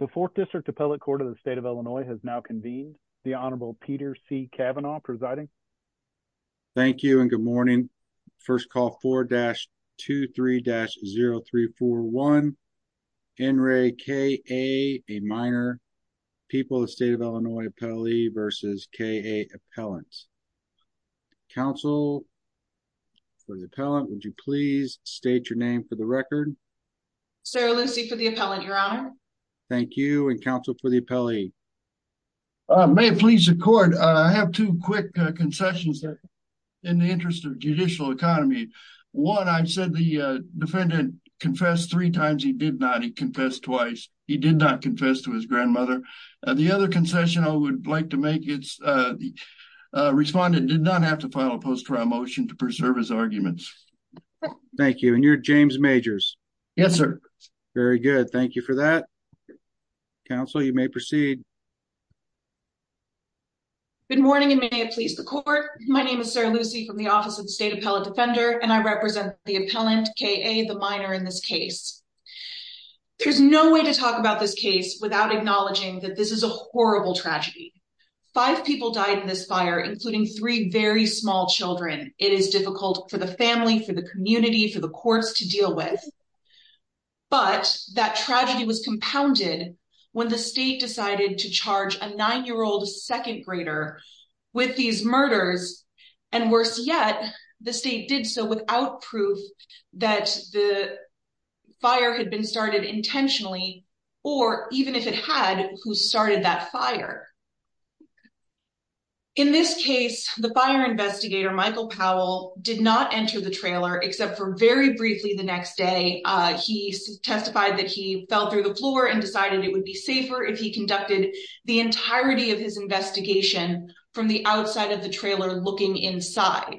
The Fourth District Appellate Court of the State of Illinois has now convened. The Honorable Peter C. Kavanaugh presiding. Thank you and good morning. First call 4-23-0341, N. Ray K.A., a minor, People of the State of Illinois Appellee versus K.A. Appellant. Counsel for the appellant, would you please state your name for the record? Sarah Lucy for the appellant, Your Honor. Thank you, and counsel for the appellee? May it please the court, I have two quick concessions in the interest of judicial economy. One, I've said the defendant confessed three times, he did not. He confessed twice. He did not confess to his grandmother. The other concession I would like to make is the respondent did not have to file a post-trial motion to preserve his arguments. Thank you. And you're James Majors? Yes, sir. Very good. Thank you for that. Counsel, you may proceed. Good morning and may it please the court. My name is Sarah Lucy from the Office of the State Appellate Defender and I represent the appellant, K.A., the minor in this case. There's no way to talk about this case without acknowledging that this is a horrible tragedy. Five people died in this fire, including three very small children. It is difficult for the family, for the community, for the courts to deal with. But that tragedy was compounded when the state decided to charge a nine-year-old second grader with these murders. And worse yet, the state did so without proof that the fire had been started intentionally, or even if it had, who started that fire. In this case, the fire investigator, Michael Powell, did not enter the trailer except for very briefly the next day. He testified that he fell through the floor and decided it would be safer if he conducted the entirety of his investigation from the outside of the trailer looking inside.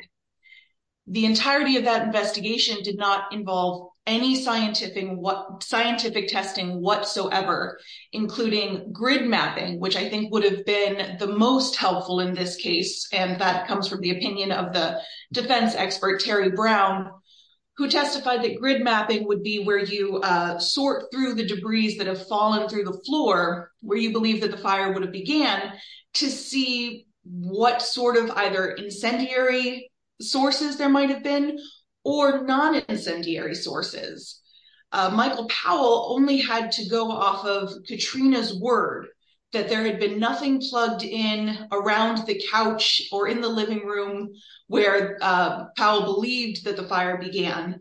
The entirety of that investigation did not involve any scientific testing whatsoever, including grid mapping, which I think would have been the most helpful in this case, and that comes from the opinion of the defense expert, Terry Brown, who testified that grid mapping would be where you sort through the debris that have fallen through the floor, where you believe that the fire would have began, to see what sort of either incendiary sources there might have been or non-incendiary sources. Michael Powell only had to go off of Katrina's word that there had been nothing plugged in around the couch or in the living room where Powell believed that the fire began,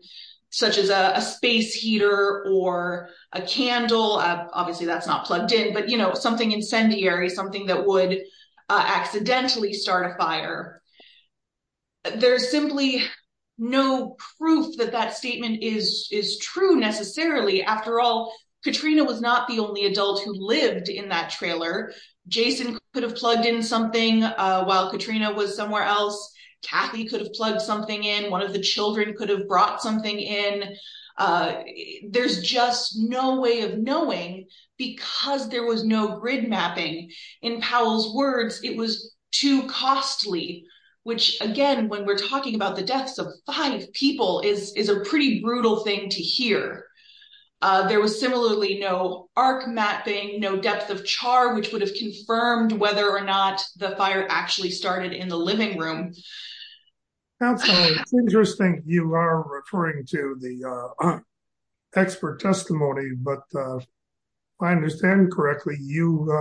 such as a space heater or a candle. Obviously, that's not plugged in, but, you know, something incendiary, something that would accidentally start a fire. There's simply no proof that that statement is true necessarily. After all, Katrina was not the only adult who lived in that trailer. Jason could have plugged in something while Katrina was somewhere else. Kathy could have plugged something in. One of the children could have brought something in. There's just no way of knowing because there was no grid mapping. In Powell's view, it was too costly, which again, when we're talking about the deaths of five people, is a pretty brutal thing to hear. There was similarly no arc mapping, no depth of char, which would have confirmed whether or not the fire actually started in the living room. That's interesting. You are referring to the expert testimony, but if I understand correctly, you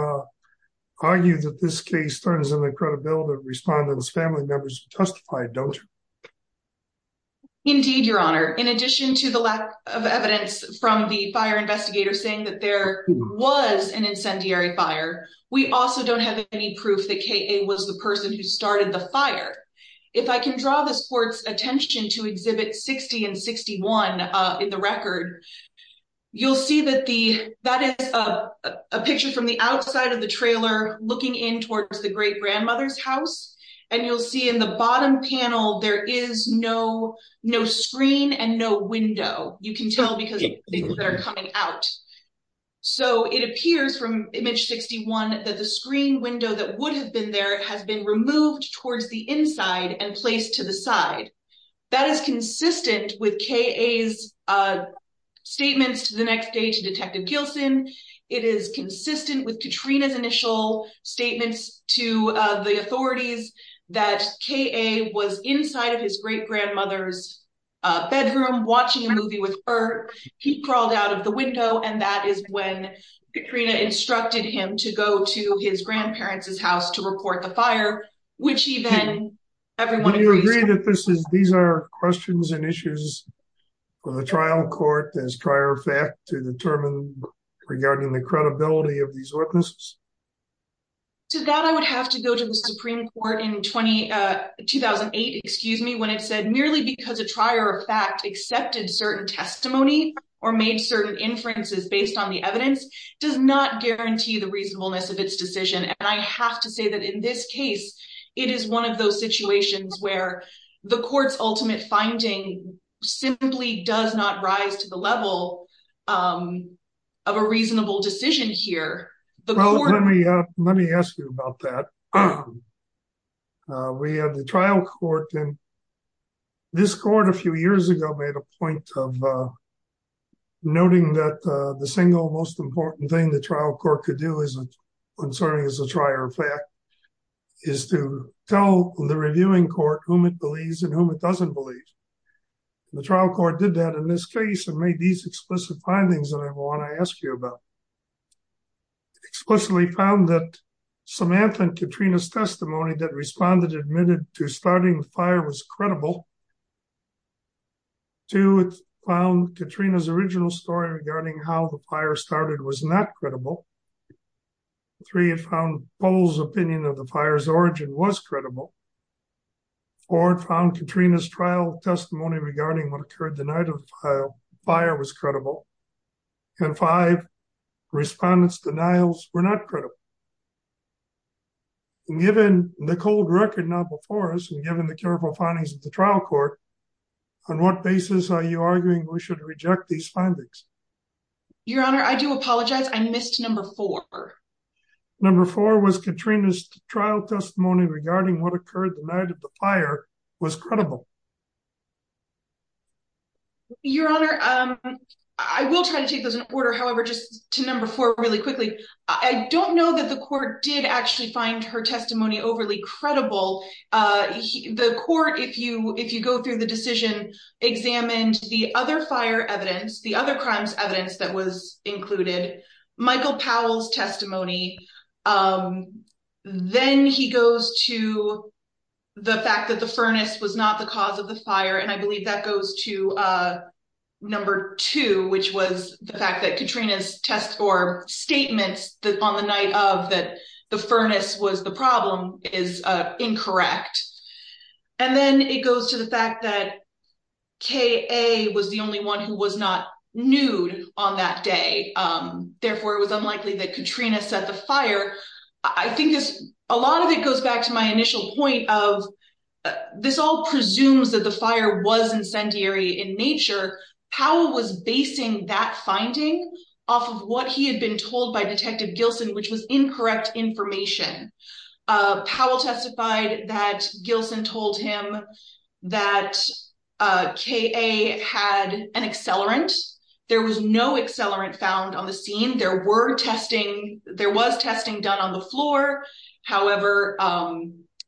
argue that this case turns on the credibility of respondents, family members who testified, don't you? Indeed, your honor. In addition to the lack of evidence from the fire investigator saying that there was an incendiary fire, we also don't have any proof that K.A. was the person who started the fire. If I can draw this court's attention to exhibit 60 and 61 in the record, you'll see that is a picture from the outside of the trailer looking in towards the great grandmother's house. You'll see in the bottom panel, there is no screen and no window. You can tell because things are coming out. It appears from image 61 that the screen window that would have been there has been removed towards the inside and placed to the side. That is consistent with K.A.'s statements to the next day to Detective Kilson. It is consistent with Katrina's initial statements to the authorities that K.A. was inside of his great grandmother's bedroom watching a movie with her. He crawled out of the window and that is when Katrina instructed him to go to his grandparents' house to report the fire, which he then- These are questions and issues for the trial court as prior fact to determine regarding the credibility of these witnesses. To that, I would have to go to the Supreme Court in 2008 when it said merely because a prior fact accepted certain testimony or made certain inferences based on the evidence does not guarantee the reasonableness of its decision. I have to say that in this case, it is one of those situations where the court's ultimate finding simply does not rise to the level of a reasonable decision here. Let me ask you about that. We have the trial court and this court a few years ago made a point of noting that the single important thing the trial court could do concerning a prior fact is to tell the reviewing court whom it believes and whom it doesn't believe. The trial court did that in this case and made these explicit findings that I want to ask you about. Explicitly found that Samantha and Katrina's testimony that responded admitted to starting the fire was credible. Two, it found Katrina's original story regarding how the fire started was not credible. Three, it found Poll's opinion of the fire's origin was credible. Four, it found Katrina's trial testimony regarding what occurred the night of the fire was credible. And five, respondents' denials were not credible. Given the cold record now before us and given the careful findings of the trial court, on what basis are you arguing we should reject these findings? Your Honor, I do apologize. I missed number four. Number four was Katrina's trial testimony regarding what occurred the night of the fire was credible. Your Honor, I will try to take those in order. However, just to number four really quickly, I don't know that the court did actually find her testimony overly credible. The court, if you go through the decision, examined the other fire evidence, the other crimes evidence that was included, Michael Powell's testimony. Then he goes to the fact that the furnace was not the cause of the fire, and I believe that goes to number two, which was the fact that Katrina's test or statements on the night of that the furnace was the problem is incorrect. And then it goes to the fact that K.A. was the only one who was not nude on that day. Therefore, it was unlikely that Katrina set the fire. I think a lot of it goes back to my initial point of this all presumes that the fire was incendiary in nature. Powell was basing that finding off of what he had been told by Detective Gilson, which was incorrect information. Powell testified that Gilson told him that K.A. had an accelerant. There was no accelerant found on the scene. There were testing. There was testing done on the floor. However,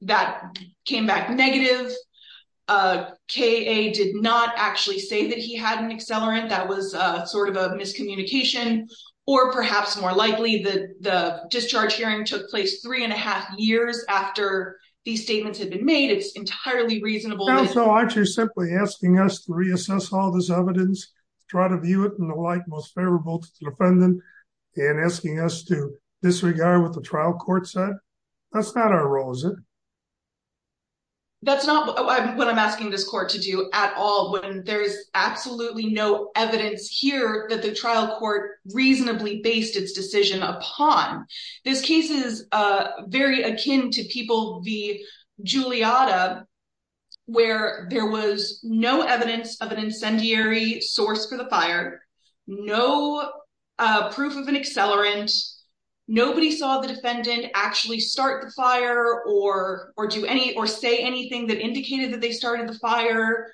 that came back negative. K.A. did not actually say that he had an accelerant. That was sort of a miscommunication. Or perhaps more likely, the discharge hearing took place three and a half years after these statements had been made. It's entirely reasonable. So aren't you simply asking us to reassess all this evidence, try to view it in the most favorable light to the defendant, and asking us to disregard what the trial court said? That's not our role, is it? That's not what I'm asking this court to do at all when there's absolutely no evidence here that the trial court reasonably based its decision upon. This case is very akin to people v. Giuliotta, where there was no evidence of an incendiary source for the fire, no proof of an accelerant, nobody saw the defendant actually start the fire or do any or say anything that indicated that they started the fire.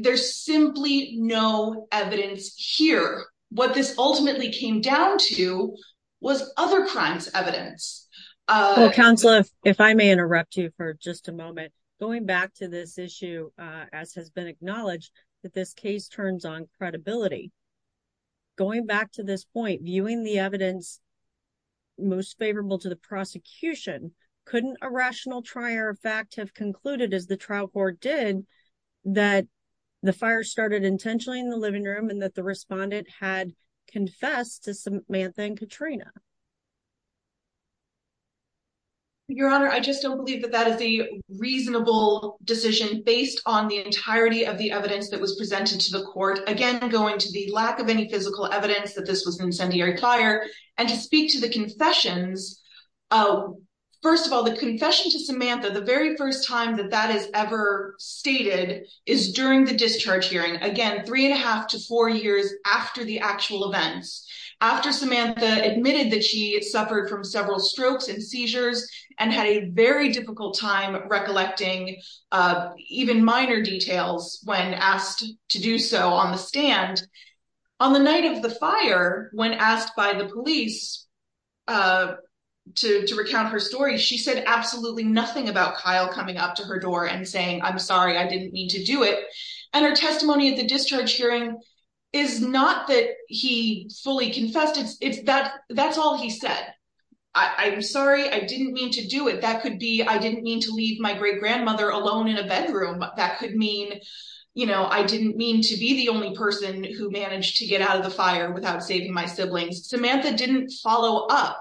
There's simply no evidence here. What this ultimately came down to was other crimes evidence. Counselor, if I may interrupt you for just a moment, going back to this issue, as has been acknowledged, that this case turns on credibility. Going back to this point, viewing the evidence most favorable to the prosecution, couldn't a rational trier of fact have concluded, as the trial court did, that the fire started intentionally in the living room and that the respondent had confessed to Samantha and Katrina? Your Honor, I just don't believe that that is a reasonable decision based on the entirety of the evidence that was presented to the court. Again, going to the lack of any physical evidence that this was an incendiary fire and to speak to the confessions. First of all, the confession to Samantha, the very first time that that is ever stated, is during the discharge hearing. Again, three and a half to four years after the actual events. After Samantha admitted to Samantha, that she suffered from several strokes and seizures and had a very difficult time recollecting even minor details when asked to do so on the stand. On the night of the fire, when asked by the police to recount her story, she said absolutely nothing about Kyle coming up to her door and saying, I'm sorry, I didn't mean to do it. Her testimony at the discharge hearing is not that he fully confessed. That's all he said. I'm sorry, I didn't mean to do it. That could be, I didn't mean to leave my great-grandmother alone in a bedroom. That could mean, you know, I didn't mean to be the only person who managed to get out of the fire without saving my siblings. Samantha didn't follow up.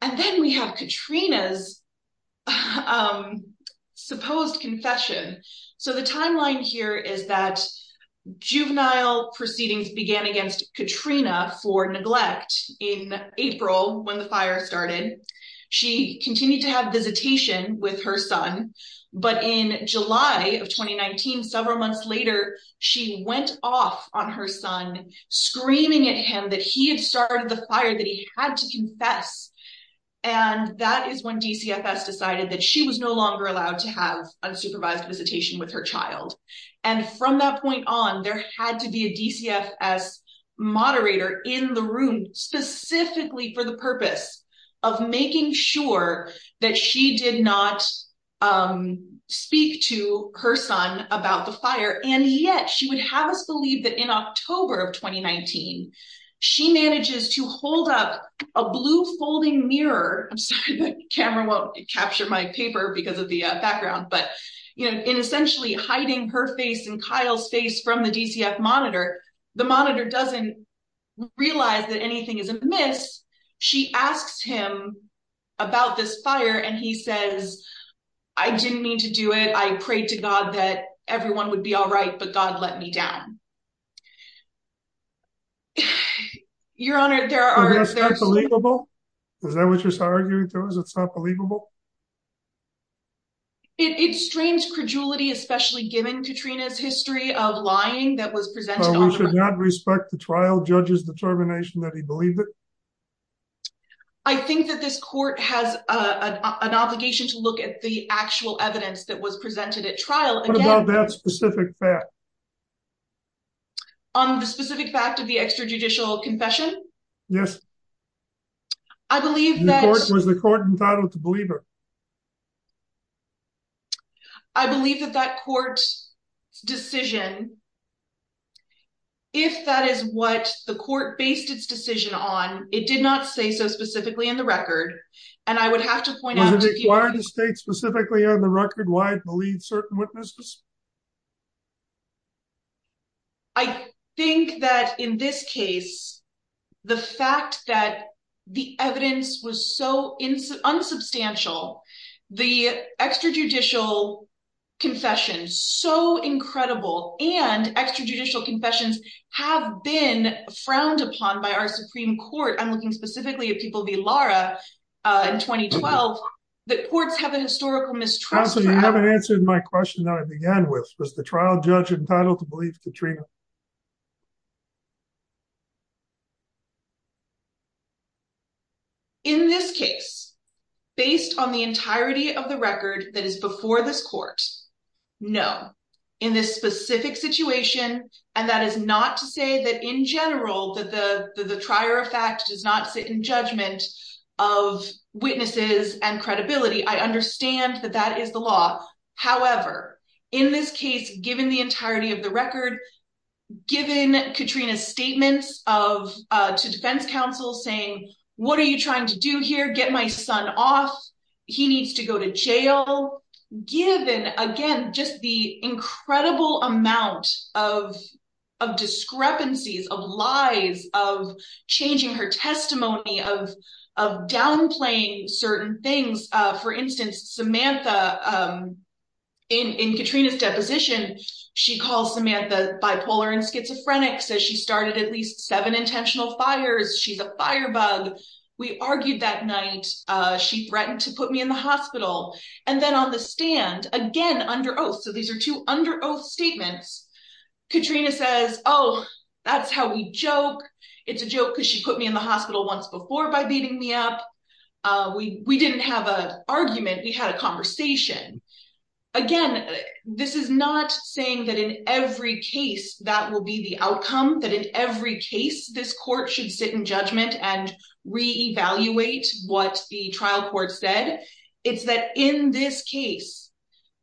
And then we have Katrina's supposed confession. So the timeline here is that juvenile proceedings began against Katrina for neglect in April, when the fire started. She continued to have visitation with her son, but in July of 2019, several months later, she went off on her son, screaming at him that he had started the fire, that he had to confess. And that is when DCFS decided that she was no longer allowed to have supervised visitation with her child. And from that point on, there had to be a DCFS moderator in the room specifically for the purpose of making sure that she did not speak to her son about the fire. And yet she would have us believe that in October of 2019, she manages to hold up a blue folding mirror. I'm sorry the camera won't capture my paper because of the background. But you know, in essentially hiding her face and Kyle's face from the DCFS monitor, the monitor doesn't realize that anything is amiss. She asks him about this fire and he says, I didn't mean to do it. I prayed to God that everyone would be all right, but God let me down. Your Honor, there are believable. Is that what you're arguing to us? It's not believable. It's strange credulity, especially given Katrina's history of lying that was presented. We should not respect the trial judge's determination that he believed it. I think that this court has an obligation to look at the actual evidence that was presented at trial. What about that specific fact? On the specific fact of the extrajudicial confession? Yes. I believe that was the court entitled to believe her. I believe that that court's decision, if that is what the court based its decision on, it did not say so specifically in the record. And I would have to point out the state specifically on the record why it believes certain witnesses. I think that in this case, the fact that the evidence was so unsubstantial, the extrajudicial confession, so incredible and extrajudicial confessions have been frowned upon by our that courts have a historical mistrust. You haven't answered my question that I began with. Was the trial judge entitled to believe Katrina? In this case, based on the entirety of the record that is before this court, no. In this specific situation, and that is not to say that in general that the credibility, I understand that that is the law. However, in this case, given the entirety of the record, given Katrina's statements to defense counsel saying, what are you trying to do here? Get my son off. He needs to go to jail. Given, again, just the incredible amount of discrepancies, of lies, of changing her testimony, of downplaying certain things. For instance, Samantha, in Katrina's deposition, she calls Samantha bipolar and schizophrenic, says she started at least seven intentional fires. She's a fire bug. We argued that night. She threatened to put me in the hospital. And then on the stand, again, under oath, these are two under oath statements. Katrina says, oh, that's how we joke. It's a joke because she put me in the hospital once before by beating me up. We didn't have an argument. We had a conversation. Again, this is not saying that in every case that will be the outcome, that in every case this court should sit in judgment and reevaluate what the trial court said. It's that in this case,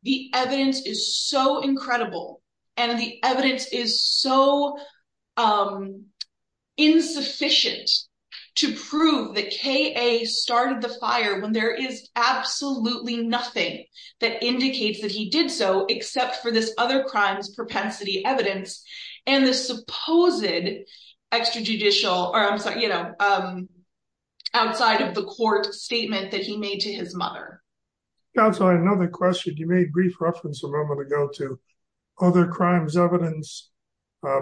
the evidence is so incredible and the evidence is so insufficient to prove that K.A. started the fire when there is absolutely nothing that indicates that he did so except for this other crimes propensity evidence and the supposed extrajudicial or outside of the court statement that he made to his mother. Counselor, I have another question. You made brief reference a moment ago to other crimes evidence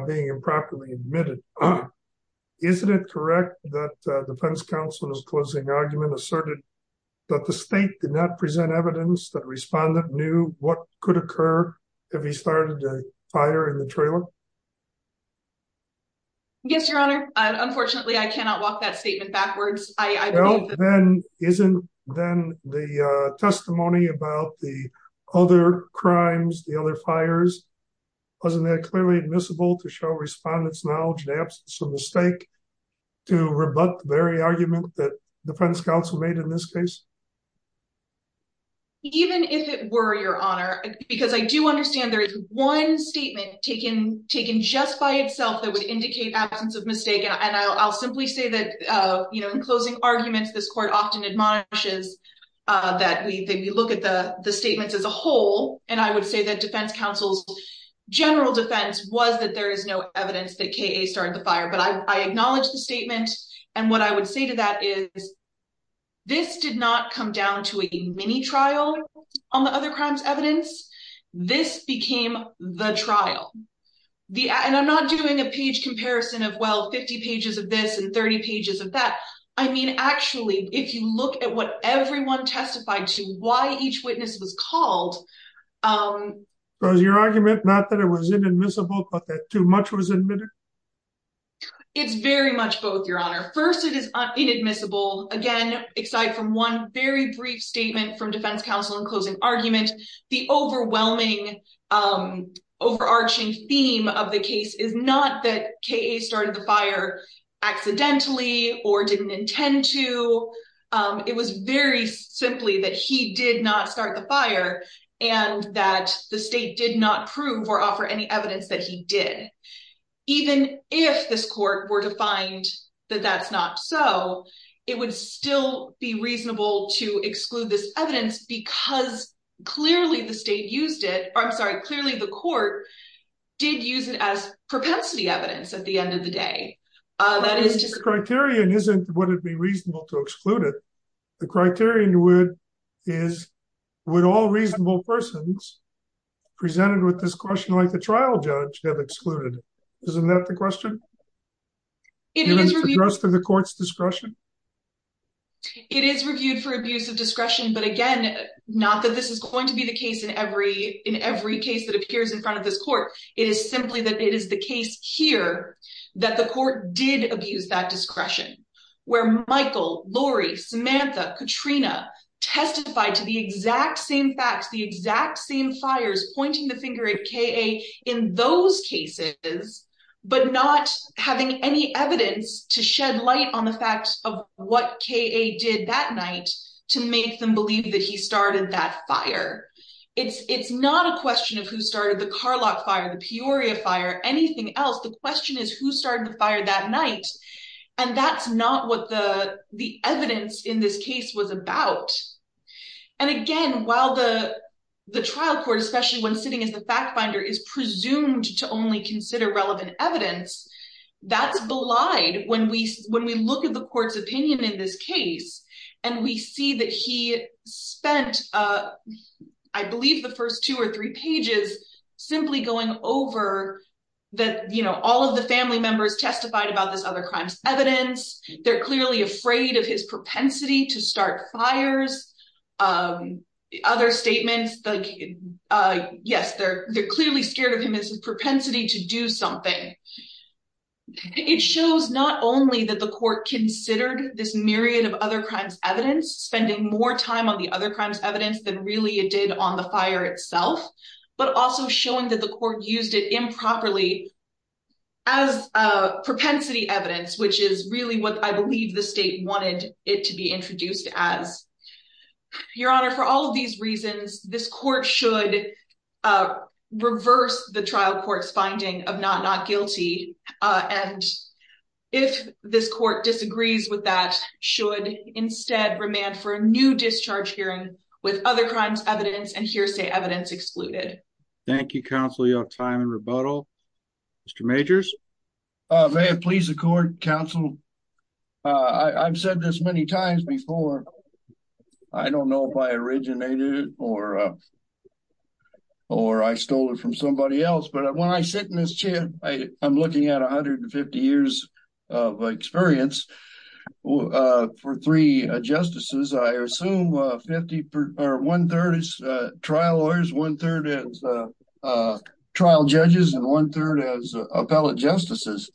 being improperly admitted. Isn't it correct that defense counsel in his closing argument asserted that the state did not present evidence that respondent knew what could occur if he started a fire in the trailer? Yes, Your Honor. Unfortunately, I cannot walk that statement backwards. Well, then isn't then the testimony about the other crimes, the other fires, wasn't that clearly admissible to show respondents knowledge and absence of mistake to rebut the very argument that defense counsel made in this case? Even if it were, Your Honor, because I do understand there is one statement taken just by itself that would indicate absence of mistake. And I'll simply say that in closing arguments, this court often admonishes that we look at the statements as a whole. And I would say that defense counsel's general defense was that there is no evidence that K.A. started the fire. But I acknowledge the statement. And what I would say to that is this did not come down to a mini trial on the other crimes evidence. This became the trial. And I'm not doing a page comparison of, well, 50 pages of this and 30 pages of that. I mean, actually, if you look at what everyone testified to, why each witness was called. Was your argument not that it was inadmissible, but that too much was admitted? It's very much both, Your Honor. First, it is inadmissible, again, aside from one very brief statement from defense counsel in closing argument. The overwhelming overarching theme of the case is not that K.A. started the fire accidentally or didn't intend to. It was very simply that he did not start the fire and that the state did not prove or offer any evidence that he did. Even if this court were to find that that's not so, it would still be reasonable to exclude this evidence because clearly the state used it. I'm sorry, clearly the court did use it as propensity evidence at the end of the day. That is just criterion isn't would it be reasonable to exclude it? The criterion would is would all reasonable persons presented with this question like the trial judge have excluded. Isn't that the question? For the court's discretion? It is reviewed for abuse of discretion. But again, not that this is going to be the case in every in every case that appears in front of this court. It is simply that it is the case here that the court did abuse that discretion where Michael, Lori, Samantha, Katrina testified to the exact same facts, the exact same fires, pointing the finger at K.A. in those cases, but not having any evidence to shed light on the facts of what K.A. did that night to make them believe that he started that fire. It's not a question of who started the Carlock fire, the Peoria fire, anything else. The question is who started the fire that night and that's not what the evidence in this case was about. And again, while the the trial court, especially when sitting as the fact finder, is presumed to only consider relevant evidence, that's belied when we when we look at the court's opinion in this case and we see that he spent, I believe, the first two or three pages simply going over that, you know, all of the family members testified about this other crimes evidence. They're clearly afraid of his propensity to start fires. Other statements like, yes, they're clearly scared of him as his propensity to do something. It shows not only that the court considered this myriad of other crimes evidence, spending more time on the other crimes evidence than really it did on the fire itself, but also showing that the I believe the state wanted it to be introduced as. Your honor, for all of these reasons, this court should reverse the trial court's finding of not not guilty. And if this court disagrees with that, should instead remand for a new discharge hearing with other crimes evidence and hearsay evidence excluded. Thank you, counsel. You have time and rebuttal. Mr. Majors. May it please the court, counsel. I've said this many times before. I don't know if I originated or or I stole it from somebody else. But when I sit in this chair, I'm looking at 150 years of experience for three justices. I assume 50 or one third is trial lawyers, one third is trial judges and one third as appellate justices.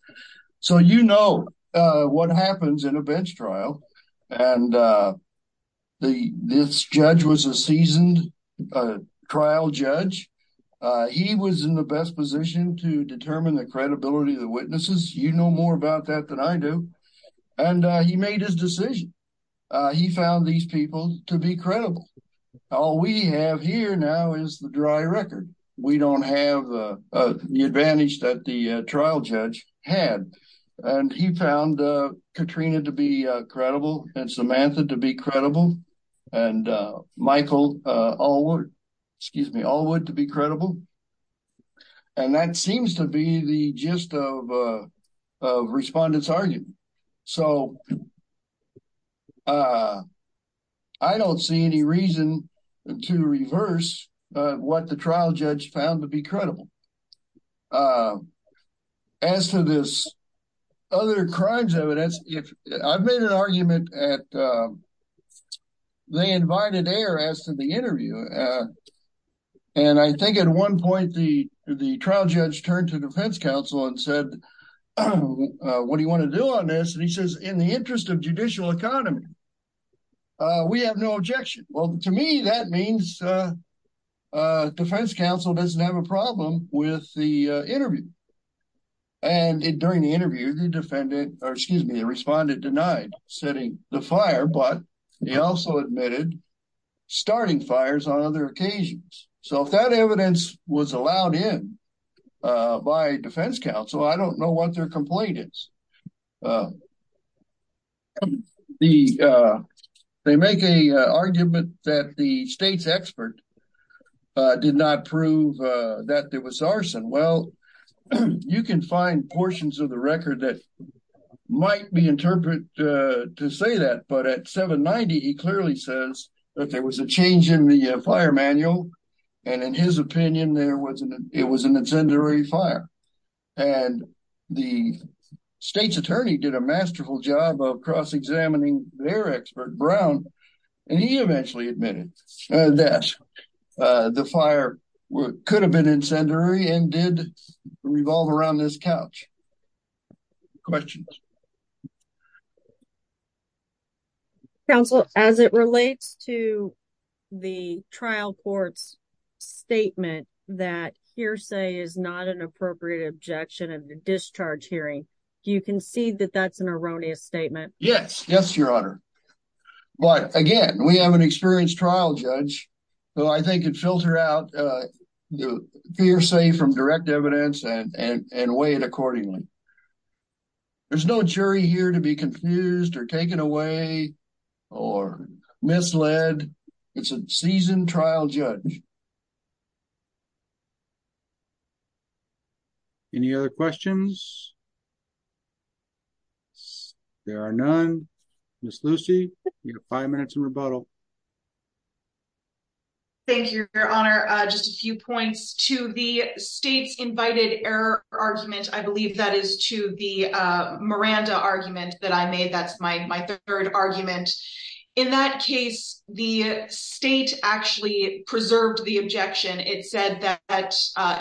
So, you know what happens in a bench trial. And the judge was a seasoned trial judge. He was in the best position to determine the credibility of the witnesses. You know more about that than I do. And he made his decision. He found these people to be credible. All we have here now is the dry record. We don't have the advantage that the trial judge had. And he found Katrina to be credible and Samantha to be credible and Michael Allwood, excuse me, Allwood to be credible. And that seems to be the gist of respondents argument. So, I don't see any reason to reverse what the trial judge found to be credible. As to this other crimes, I would ask if I've made an argument at they invited air as to the interview. And I think at one point, the trial judge turned to defense counsel and said, what do you want to do on this? And he says, in the interest of judicial economy, we have no objection. Well, to me, that means defense counsel doesn't have a problem with the interview. And during the interview, the defendant or excuse me, the respondent denied setting the fire, but he also admitted starting fires on other occasions. So, if that evidence was allowed in by defense counsel, I don't know what their complaint is. They make a argument that the state's expert did not prove that there was arson. Well, you can find portions of the record that might be interpreted to say that. But at 790, he clearly says that there was a change in the fire manual. And in his opinion, it was an incendiary fire. And the state's attorney did a masterful job of cross-examining their expert Brown. And he revolved around this couch. Questions? Counsel, as it relates to the trial court's statement that hearsay is not an appropriate objection of the discharge hearing, do you concede that that's an erroneous statement? Yes. Yes, Your Honor. But again, we have an experienced trial judge, who I think could filter out the hearsay from direct evidence and weigh it accordingly. There's no jury here to be confused or taken away or misled. It's a seasoned trial judge. Any other questions? There are none. Ms. Lucy, you have five minutes in rebuttal. Thank you, Your Honor. Just a few points to the state's invited error argument. I believe that is to the Miranda argument that I made. That's my third argument. In that case, the state actually preserved the objection. It said that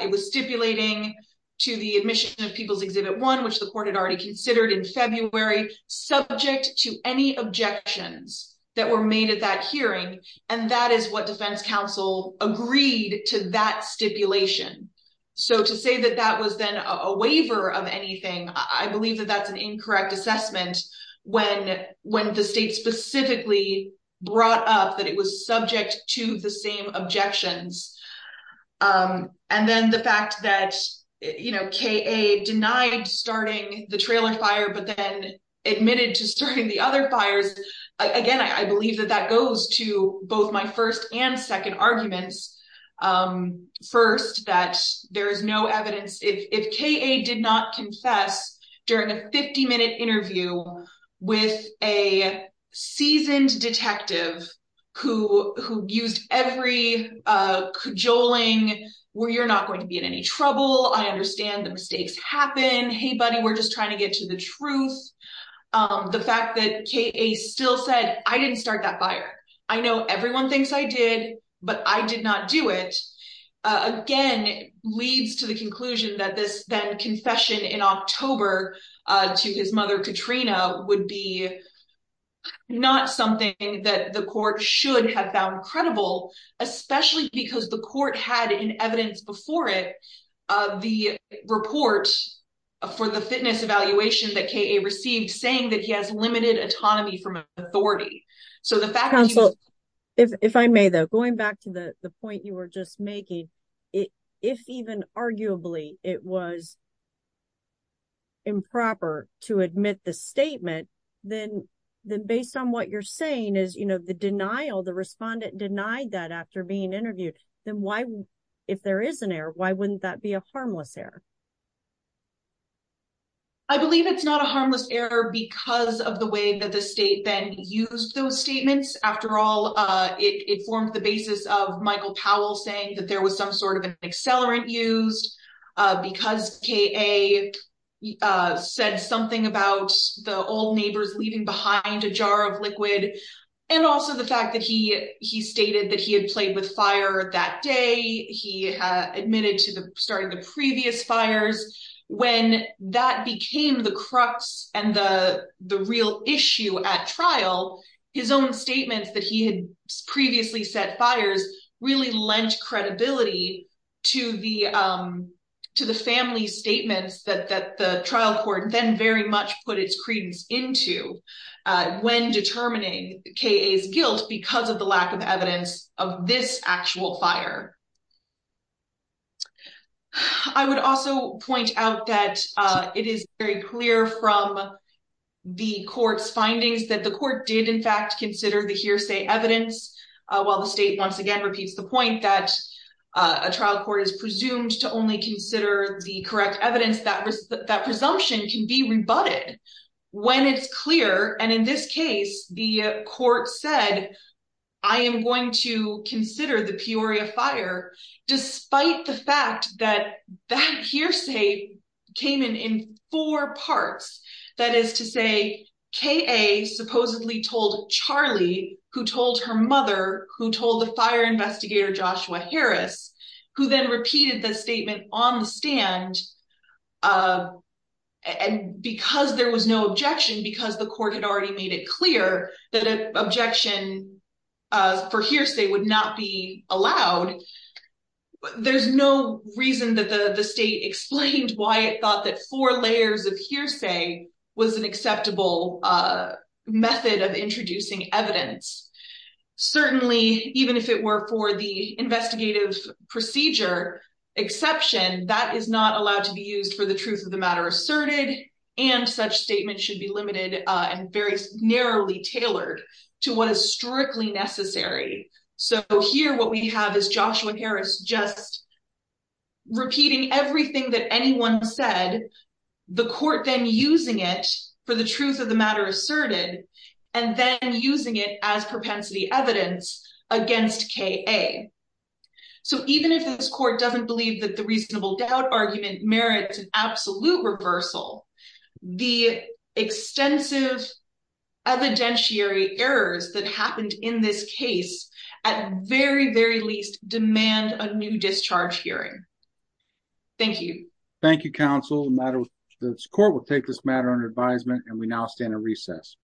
it was stipulating to the admission of People's Exhibit One, which the court had already considered in February, subject to any objections that were agreed to that stipulation. To say that that was then a waiver of anything, I believe that that's an incorrect assessment when the state specifically brought up that it was subject to the same objections. Then the fact that KA denied starting the trailer fire but then admitted to starting other fires, again, I believe that that goes to both my first and second arguments. First, that there is no evidence. If KA did not confess during a 50-minute interview with a seasoned detective who used every cajoling, where you're not going to be in any trouble, I understand the KA still said, I didn't start that fire. I know everyone thinks I did, but I did not do it. Again, leads to the conclusion that this then confession in October to his mother Katrina would be not something that the court should have found credible, especially because the court had in evidence before it, the report for the fitness evaluation that KA received saying that he has limited autonomy from authority. If I may, though, going back to the point you were just making, if even arguably it was improper to admit the statement, then based on what you're saying is the denial, the respondent denied that after being interviewed, then if there is an error, why wouldn't that be a harmless error? I believe it's not a harmless error because of the way that the state then used those statements. After all, it formed the basis of Michael Powell saying that there was some sort of an accelerant used because KA said something about the old neighbors leaving behind a jar of liquid and also the fact that he stated that he had played with fire that day. He admitted to starting the previous fires. When that became the crux and the real issue at trial, his own statements that he had previously set fires really lent credibility to the family statements that the trial court then very much put its credence into when determining KA's guilt because of the lack of evidence of this actual fire. I would also point out that it is very clear from the court's findings that the court did in fact consider the hearsay evidence, while the state once again repeats the point that a trial court is presumed to only consider the correct I am going to consider the Peoria fire, despite the fact that that hearsay came in in four parts. That is to say, KA supposedly told Charlie, who told her mother, who told the fire investigator Joshua Harris, who then repeated the statement on the stand and because there was no objection, because the court had already made it clear that an objection for hearsay would not be allowed, there's no reason that the state explained why it thought that four layers of hearsay was an acceptable method of introducing evidence. Certainly, even if it were for the investigative procedure exception, that is not allowed to be used for the truth of the matter asserted and such statements should be limited and very narrowly tailored to what is strictly necessary. So, here what we have is Joshua Harris just repeating everything that anyone said, the court then using it for the truth of the matter asserted and then using it as propensity evidence against KA. So, even if this court doesn't believe that the reasonable doubt argument merits an acquittal, the extensive evidentiary errors that happened in this case at very, very least demand a new discharge hearing. Thank you. Thank you, counsel. The court will take this matter under advisement and we now stand at recess.